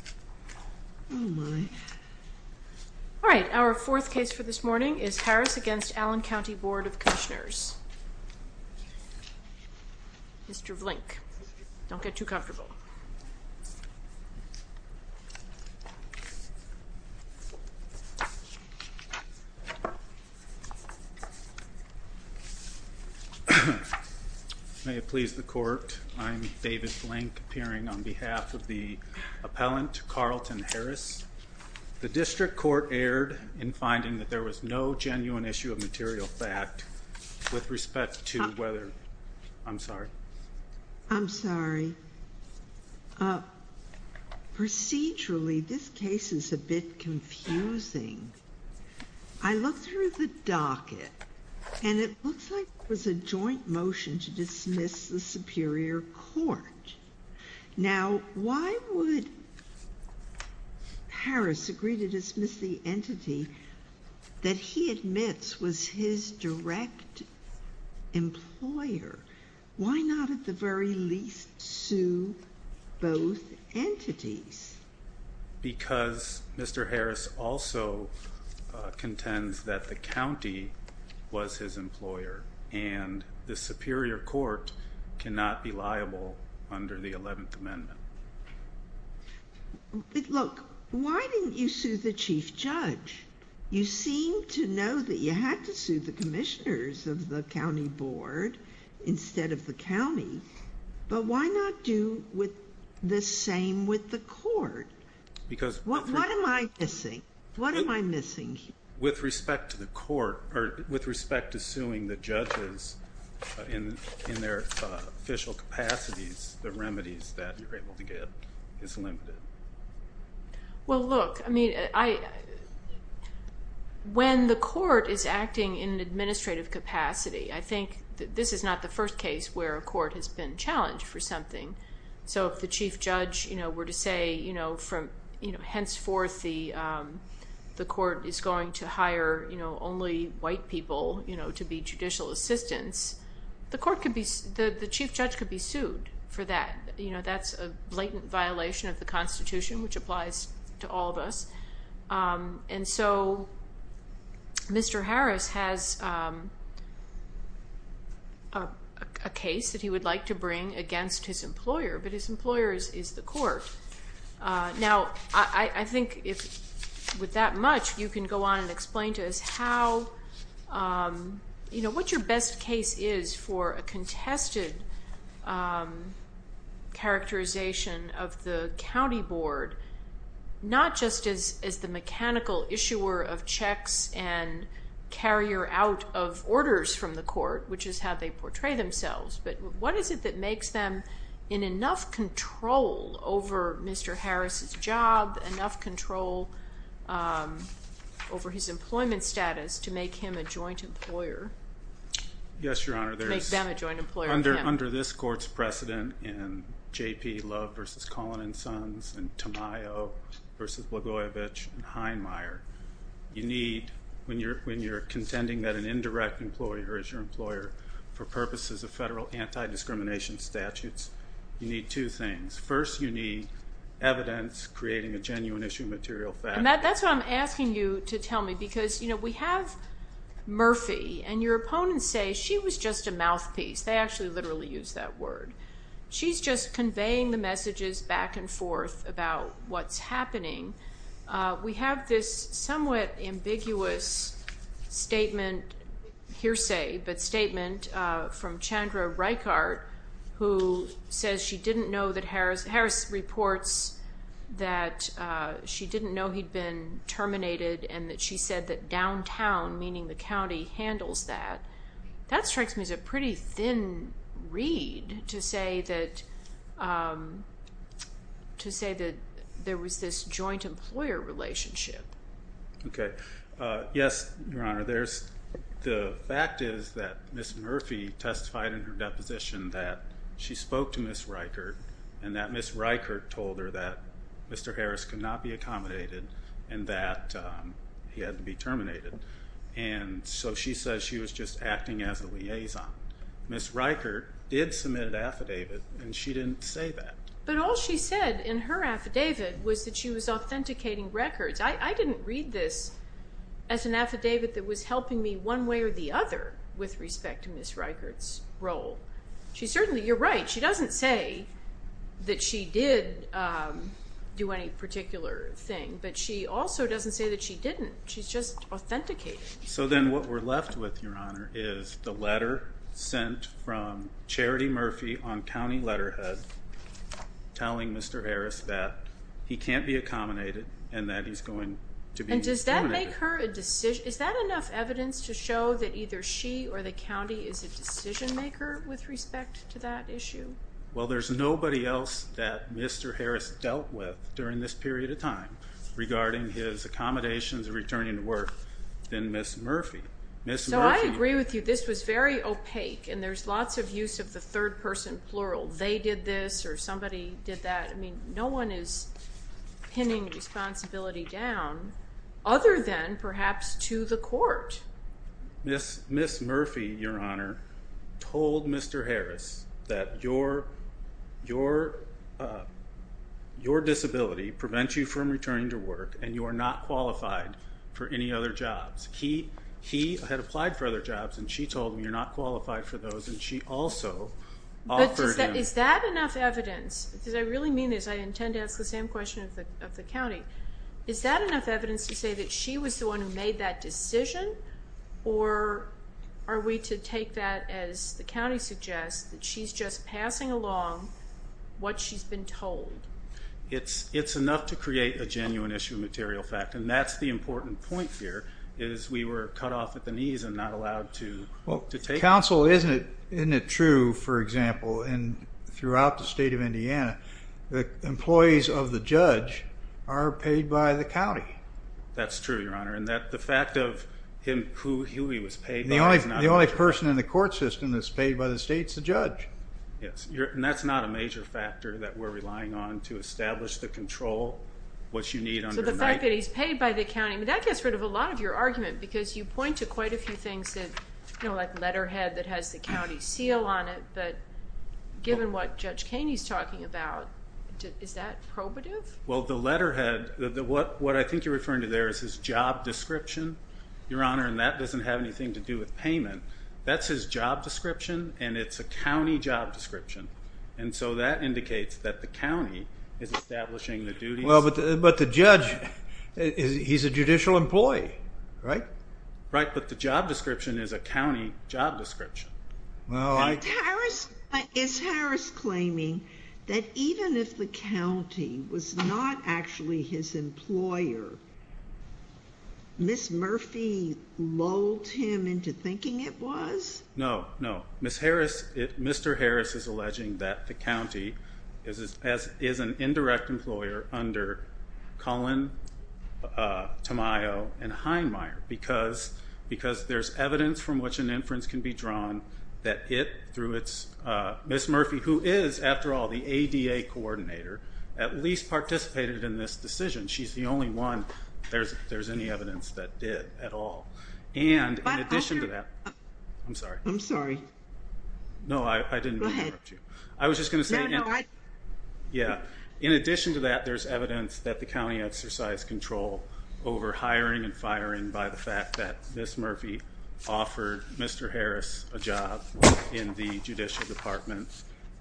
Mr. Blink, don't get too comfortable May it please the court, I'm Davis Blink appearing on behalf of the appellant Carleton Harris. The district court erred in finding that there was no genuine issue of material fact with respect to whether I'm sorry. I'm sorry. Procedurally this case is a bit confusing. I look through the docket and it looks like it was a joint motion to dismiss the Superior Court. Now why would Harris agree to dismiss the entity that he admits was his direct employer? Why not at the very least sue both entities? Because Mr. Harris also contends that the county was his employer and the Superior Court cannot be liable under the 11th Amendment. Look, why didn't you sue the chief judge? You seem to know that you had to sue the commissioners of the county board instead of the county, but why not do with the same with the court? Because what am I missing? What am I missing? With respect to the court or with respect to suing the judges in their official capacities, the remedies that you're able to get is limited. Well look, I mean when the court is acting in an administrative capacity, I think this is not the first case where a court has been challenged for something. So if the chief judge were to say henceforth the court is going to hire only white people to be judicial assistants, the chief judge could be sued for that. That's a blatant violation of the Constitution, which applies to all of us. And so Mr. Harris has a case that he would like to bring against his employer, but his with that much, you can go on and explain to us how, you know, what your best case is for a contested characterization of the county board, not just as the mechanical issuer of checks and carrier out of orders from the court, which is how they portray themselves, but what is it that makes them in enough control over Mr. Harris's job, enough control over his employment status, to make him a joint employer? Yes, Your Honor, under this court's precedent in JP Love versus Collin and Sons and Tamayo versus Blagojevich and Heinmeier, you need, when you're contending that an indirect employer is your employer, for purposes of federal anti-discrimination statutes, you need two things. First, you need evidence creating a genuine issue material fact. And that's what I'm asking you to tell me, because, you know, we have Murphy and your opponents say she was just a mouthpiece. They actually literally use that word. She's just conveying the messages back and forth about what's happening. We have this somewhat ambiguous statement, hearsay, but who says she didn't know that Harris, Harris reports that she didn't know he'd been terminated and that she said that downtown, meaning the county, handles that. That strikes me as a pretty thin reed to say that, to say that there was this joint employer relationship. Okay. Yes, Your Honor, there's, the fact is that Ms. Murphy testified in her deposition that she spoke to Ms. Reichert and that Ms. Reichert told her that Mr. Harris could not be accommodated and that he had to be terminated. And so she says she was just acting as a liaison. Ms. Reichert did submit an affidavit and she didn't say that. But all she said in her affidavit was that she was authenticating records. I didn't read this as an affidavit that was helping me one way or the other with respect to Ms. Reichert's role. She certainly, you're right, she doesn't say that she did do any particular thing, but she also doesn't say that she didn't. She's just authenticated. So then what we're left with, Your Honor, is the letter sent from Charity Murphy on county letterhead, telling Mr. Harris that he can't be accommodated and that he's going to be terminated. And does that make her a decision, is that enough evidence to show that either she or the county is a decision maker with respect to that issue? Well, there's nobody else that Mr. Harris dealt with during this period of time regarding his accommodations and returning to work than Ms. Murphy. Ms. Murphy... So I agree with you. This was very opaque and there's lots of use of the third person plural. They did this or somebody did that. I mean, no one is pinning responsibility down other than perhaps to the court. Ms. Murphy, Your Honor, told Mr. Harris that your disability prevents you from returning to work and you are not qualified for any other jobs. He had applied for other jobs and she told him you're not qualified for those and she also offered him... But is that enough evidence? Because I really mean this, I intend to ask the same question of the county. Is that enough evidence to say that she was the one who made that decision? Or are we to take that as the county suggests that she's just passing along what she's been told? It's enough to create a genuine issue of material fact. And that's the important point here, is we were cut off at the knees and not allowed to take... Well, counsel, isn't it true, for example, in throughout the state of Indiana, the employees of the judge are paid by the county? That's true, Your Honor, and that the fact of who he was paid by... The only person in the court system that's paid by the state's the judge. Yes, and that's not a major factor that we're relying on to establish the control, what you need under... So the fact that he's paid by the county, but that gets rid of a lot of your argument because you point to quite a few things that... Like letterhead that has the county seal on it, but given what Judge Kaney's talking about, is that probative? Well, the letterhead, what I think you're referring to there is his job description, Your Honor, and that doesn't have anything to do with payment. That's his job description, and it's a county job description. And so that indicates that the county is establishing the duties... But the judge, he's a judicial employee, right? Right, but the job description is a county job description. Well, I... Is Harris claiming that even if the county was not actually his employer, Ms. Murphy lulled him into thinking it was? No, no. Mr. Harris is alleging that the county is an indirect employer under Cullen, Tamayo, and Heinmeier, because there's evidence from which an inference can be drawn that it, through its... Ms. Murphy, who is, after all, the ADA coordinator, at least participated in this decision. She's the only one, if there's any evidence, that did at all. And in addition to that... I'm sorry. I'm sorry. No, I didn't mean to interrupt you. Go ahead. I was just gonna say... No, no, I... Yeah. In addition to that, there's evidence that the county exercised control over hiring and firing by the fact that Ms. Murphy offered Mr. Harris a job in the judicial department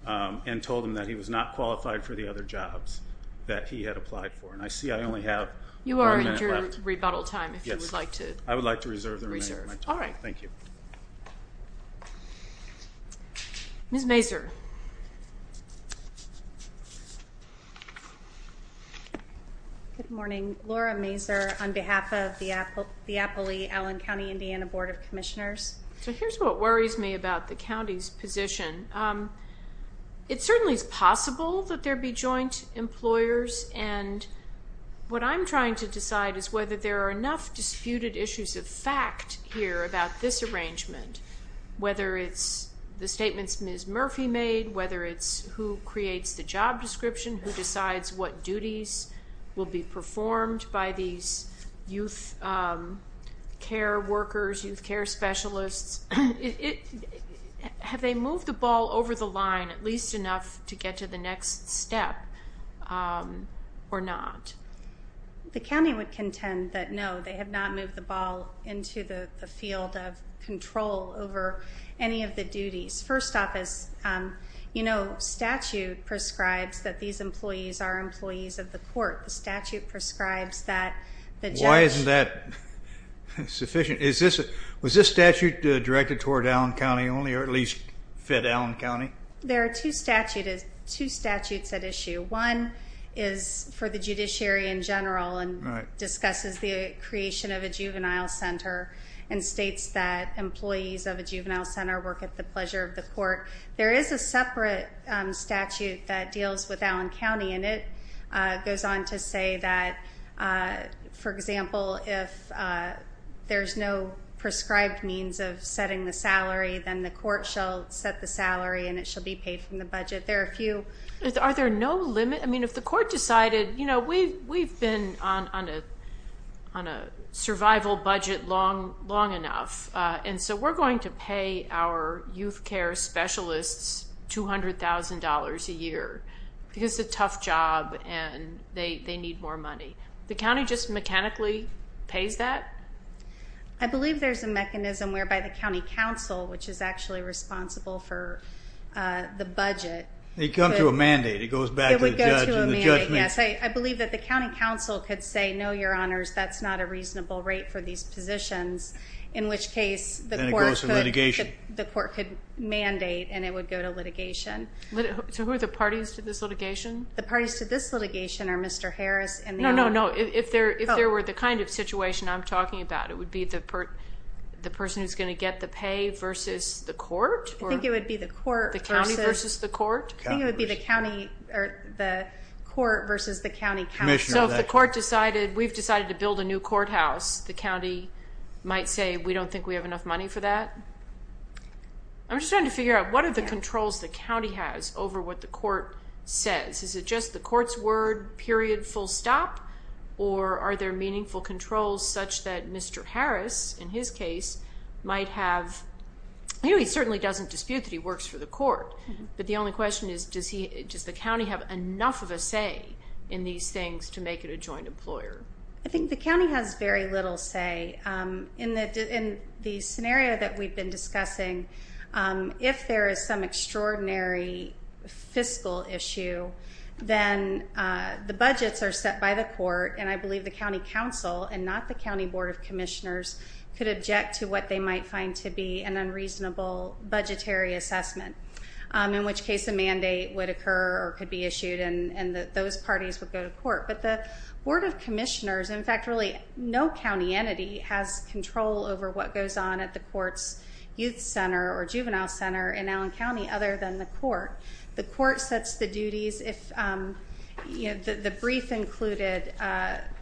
and told him that he was not qualified for the other jobs that he had applied for. And I see I only have one minute left. You are in your rebuttal time, if you would like to... Yes, I would like to reserve the remaining of my time. All right. Thank you. Ms. Mazur. Good morning. Laura Mazur on behalf of the Applee Allen County, Indiana Board of Commissioners. So here's what worries me about the county's position. It certainly is possible that there be joint employers, and what I'm trying to decide is whether there are enough disputed issues of disarrangement, whether it's the statements Ms. Murphy made, whether it's who creates the job description, who decides what duties will be performed by these youth care workers, youth care specialists. Have they moved the ball over the line at least enough to get to the next step or not? The county would contend that, no, they have not moved the ball into the field of control over any of the duties. First off, statute prescribes that these employees are employees of the court. The statute prescribes that the judge... Why isn't that sufficient? Was this statute directed toward Allen County only, or at least fed Allen County? There are two statutes at issue. One is for the judiciary in general and discusses the creation of a juvenile center and states that employees of a juvenile center work at the pleasure of the court. There is a separate statute that deals with Allen County, and it goes on to say that, for example, if there's no prescribed means of setting the salary, then the court shall set the salary and it shall be paid from the budget. There are a few... Are there no limit? If the court decided, we've been on a survival budget long enough, and so we're going to pay our youth care specialists $200,000 a year because it's a tough job and they need more money. The county just mechanically pays that? I believe there's a mechanism whereby the county council, which is actually responsible for the budget... They come to a mandate, it goes back to the judge and the judgment. It would go to a mandate, yes. I believe that the county council could say, no, your honors, that's not a reasonable rate for these positions, in which case the court could... Then it goes to litigation. The court could mandate and it would go to litigation. So who are the parties to this litigation? The parties to this litigation are Mr. Harris and... No, no, no. If there were the kind of situation I'm talking about, it would be the person who's going to get the pay versus the court. The county versus the court? I think it would be the county or the court versus the county council. So if the court decided, we've decided to build a new courthouse, the county might say, we don't think we have enough money for that? I'm just trying to figure out, what are the controls the county has over what the court says? Is it just the court's word, period, full stop? Or are there meaningful controls such that Mr. Harris, in his case, might have... He certainly doesn't dispute that he works for the court, but the only question is, does the county have enough of a say in these things to make it a joint employer? I think the county has very little say. In the scenario that we've been discussing, if there is some extraordinary fiscal issue, then the budgets are set by the court, and I believe the county council and not the county board of commissioners could object to what is called a budgetary assessment, in which case a mandate would occur or could be issued, and those parties would go to court. But the board of commissioners, in fact, really no county entity has control over what goes on at the court's youth center or juvenile center in Allen County, other than the court. The court sets the duties. The brief included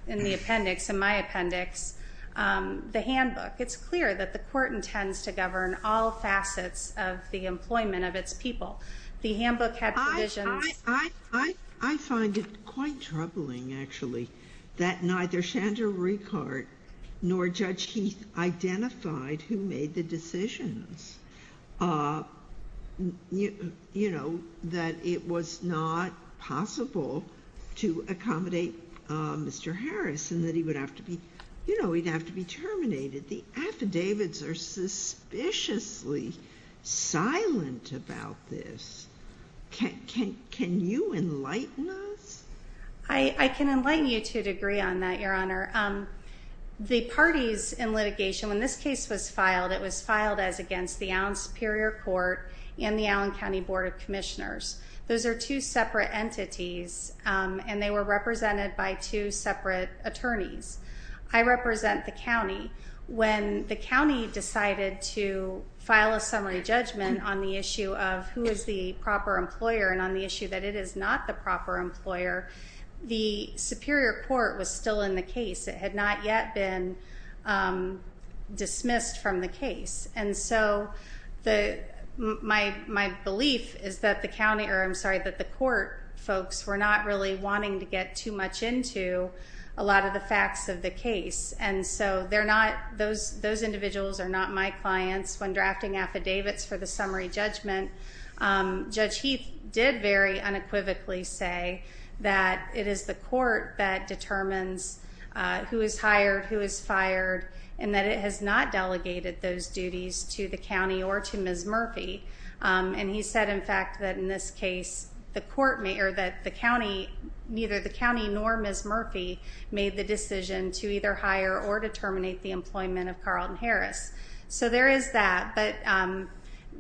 in the appendix, in my appendix, the handbook. It's clear that the court intends to govern all facets of the employment of its people. The handbook had provisions... I find it quite troubling, actually, that neither Chandra Rueckart nor Judge Heath identified who made the decisions, that it was not possible to accommodate Mr. Harris, and that he would have to be terminated. The affidavits are suspiciously silent about this. Can you enlighten us? I can enlighten you to a degree on that, Your Honor. The parties in litigation, when this case was filed, it was filed as against the Allen Superior Court and the Allen County Board of Commissioners. Those are two separate entities, and they were represented by two separate attorneys. I represent the county. When the county decided to file a summary judgment on the issue of who is the proper employer and on the issue that it is not the proper employer, the Superior Court was still in the case. It had not yet been dismissed from the case. And so my belief is that the county... I don't want to rush into a lot of the facts of the case. And so those individuals are not my clients. When drafting affidavits for the summary judgment, Judge Heath did very unequivocally say that it is the court that determines who is hired, who is fired, and that it has not delegated those duties to the county or to Ms. Murphy. And he said, in fact, that in this case, the court may... Ms. Murphy made the decision to either hire or to terminate the employment of Carlton Harris. So there is that. But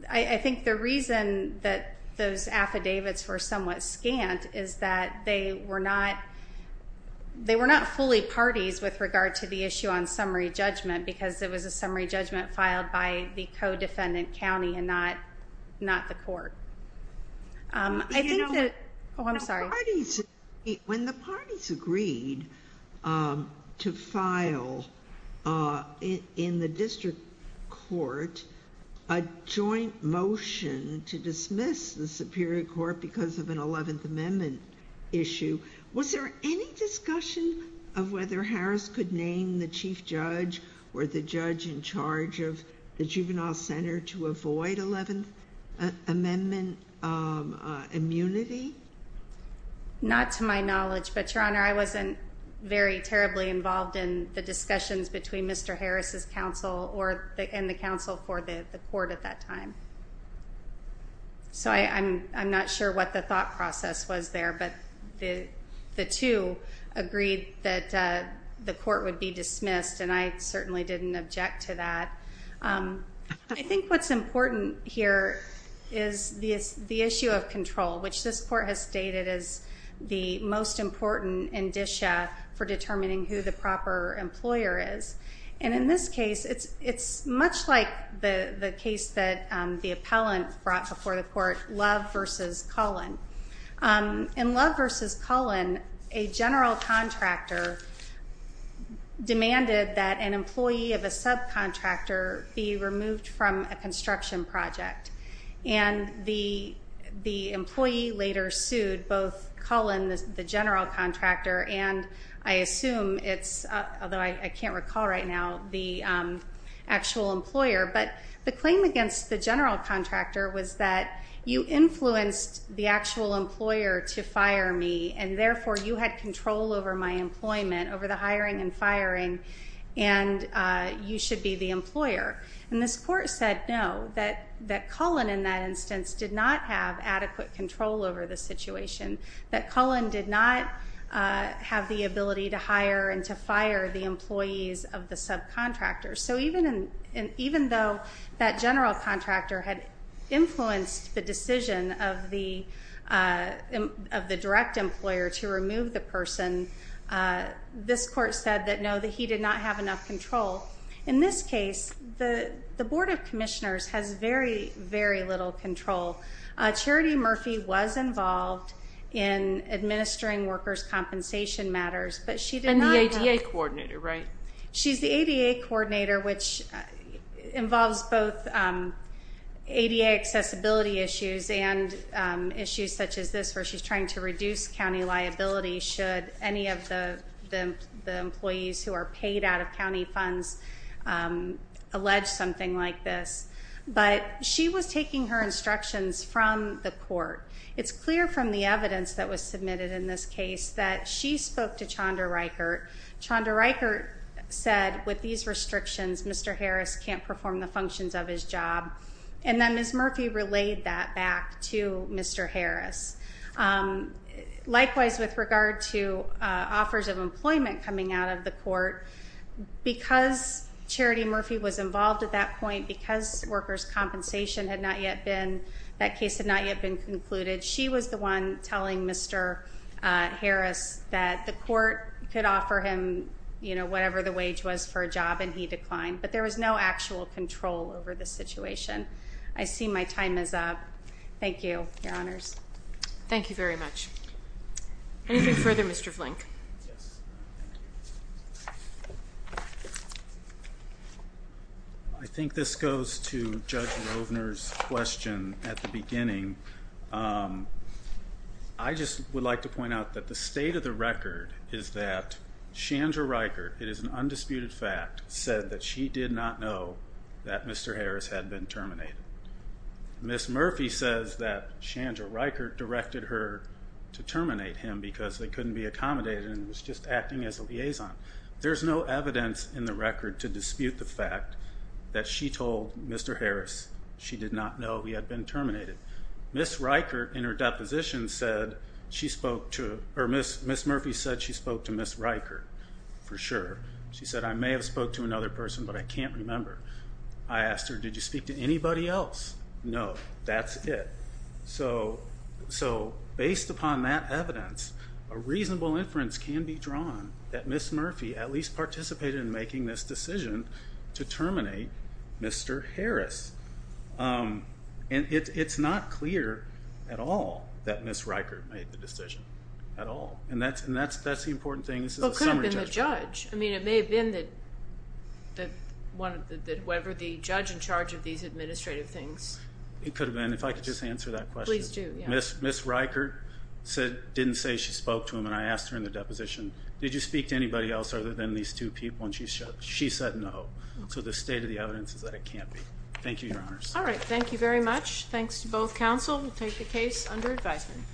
I think the reason that those affidavits were somewhat scant is that they were not fully parties with regard to the issue on summary judgment, because it was a summary judgment filed by the co-defendant county and not the court. I think that... Oh, I'm sorry. When the parties agreed to file in the district court a joint motion to dismiss the Superior Court because of an 11th Amendment issue, was there any discussion of whether Harris could name the chief judge or the judge in charge of the Juvenile Center to avoid 11th Amendment immunity? Not to my knowledge, but Your Honor, I wasn't very terribly involved in the discussions between Mr. Harris's counsel and the counsel for the court at that time. So I'm not sure what the thought process was there, but the two agreed that the court would be dismissed, and I certainly didn't object to that. I think what's important here is the issue of control, which this court has stated is the most important indicia for determining who the proper employer is. And in this case, it's much like the case that the appellant brought before the court, Love versus Cullen. In Love the claim was that the employee of a subcontractor be removed from a construction project, and the employee later sued both Cullen, the general contractor, and I assume it's... Although I can't recall right now the actual employer, but the claim against the general contractor was that you influenced the actual employer to fire me, and therefore you had control over my employment, over the hiring and firing, and you should be the employer. And this court said no, that Cullen in that instance did not have adequate control over the situation, that Cullen did not have the ability to hire and to fire the employees of the subcontractor. So even though that general contractor had influenced the decision of the direct employer to remove the person, this court said that no, that he did not have enough control. In this case, the Board of Commissioners has very, very little control. Charity Murphy was involved in administering workers' compensation matters, but she did not... And the ADA coordinator, right? She's the ADA coordinator, which involves both ADA accessibility issues and issues such as this, where she's trying to reduce county liability should any of the employees who are paid out of county funds allege something like this. But she was taking her instructions from the court. It's clear from the evidence that was submitted in this case that she spoke to Chandra Reichert. Chandra Reichert said, with these restrictions, Mr. Harris can't perform the functions of his job. And then Ms. Murphy relayed that back to Mr. Harris. Likewise, with regard to offers of employment coming out of the court, because Charity Murphy was involved at that point, because workers' compensation had not yet been... That case had not yet been concluded, she was the one telling Mr. Harris that the court could offer him whatever the wage was for a job, and he declined. But there was no actual control over the situation. I see my time is up. Thank you, Your Honors. Thank you very much. Anything further, Mr. Flink? Yes. I think this goes to Judge Rovner's question at the beginning. I just would like to point out that the state of the record is that Chandra Reichert, it is an undisputed fact, said that she did not know that Mr. Harris had been terminated. Ms. Murphy says that Chandra Reichert directed her to terminate him because they couldn't be accommodated and it was just acting as a liaison. There's no evidence in the record to dispute the fact that she told Mr. Harris she did not know he had been terminated. Ms. Reichert, in her deposition, said she spoke to... Or Ms. Murphy said she spoke to Ms. Reichert, for sure. She said, I may have spoke to another person, but I can't remember. I asked her, did you speak to anybody else? No, that's it. So based upon that evidence, a reasonable inference can be drawn that Ms. Murphy at least participated in making this decision to terminate Mr. Harris. And it's not clear at all that Ms. Reichert made the decision at all. And that's the important thing. Well, it could have been the judge. I mean, it may have been the judge in charge of these administrative things. It could have been, if I could just answer that question. Please do, yeah. Ms. Reichert didn't say she spoke to him and I asked her in the deposition, did you speak to anybody else other than these two people? And she said no. So the state of the evidence is that it can't be. Thank you, Your Honors. All right. Thank you very much. Thanks to both counsel. We'll take the case under advisement.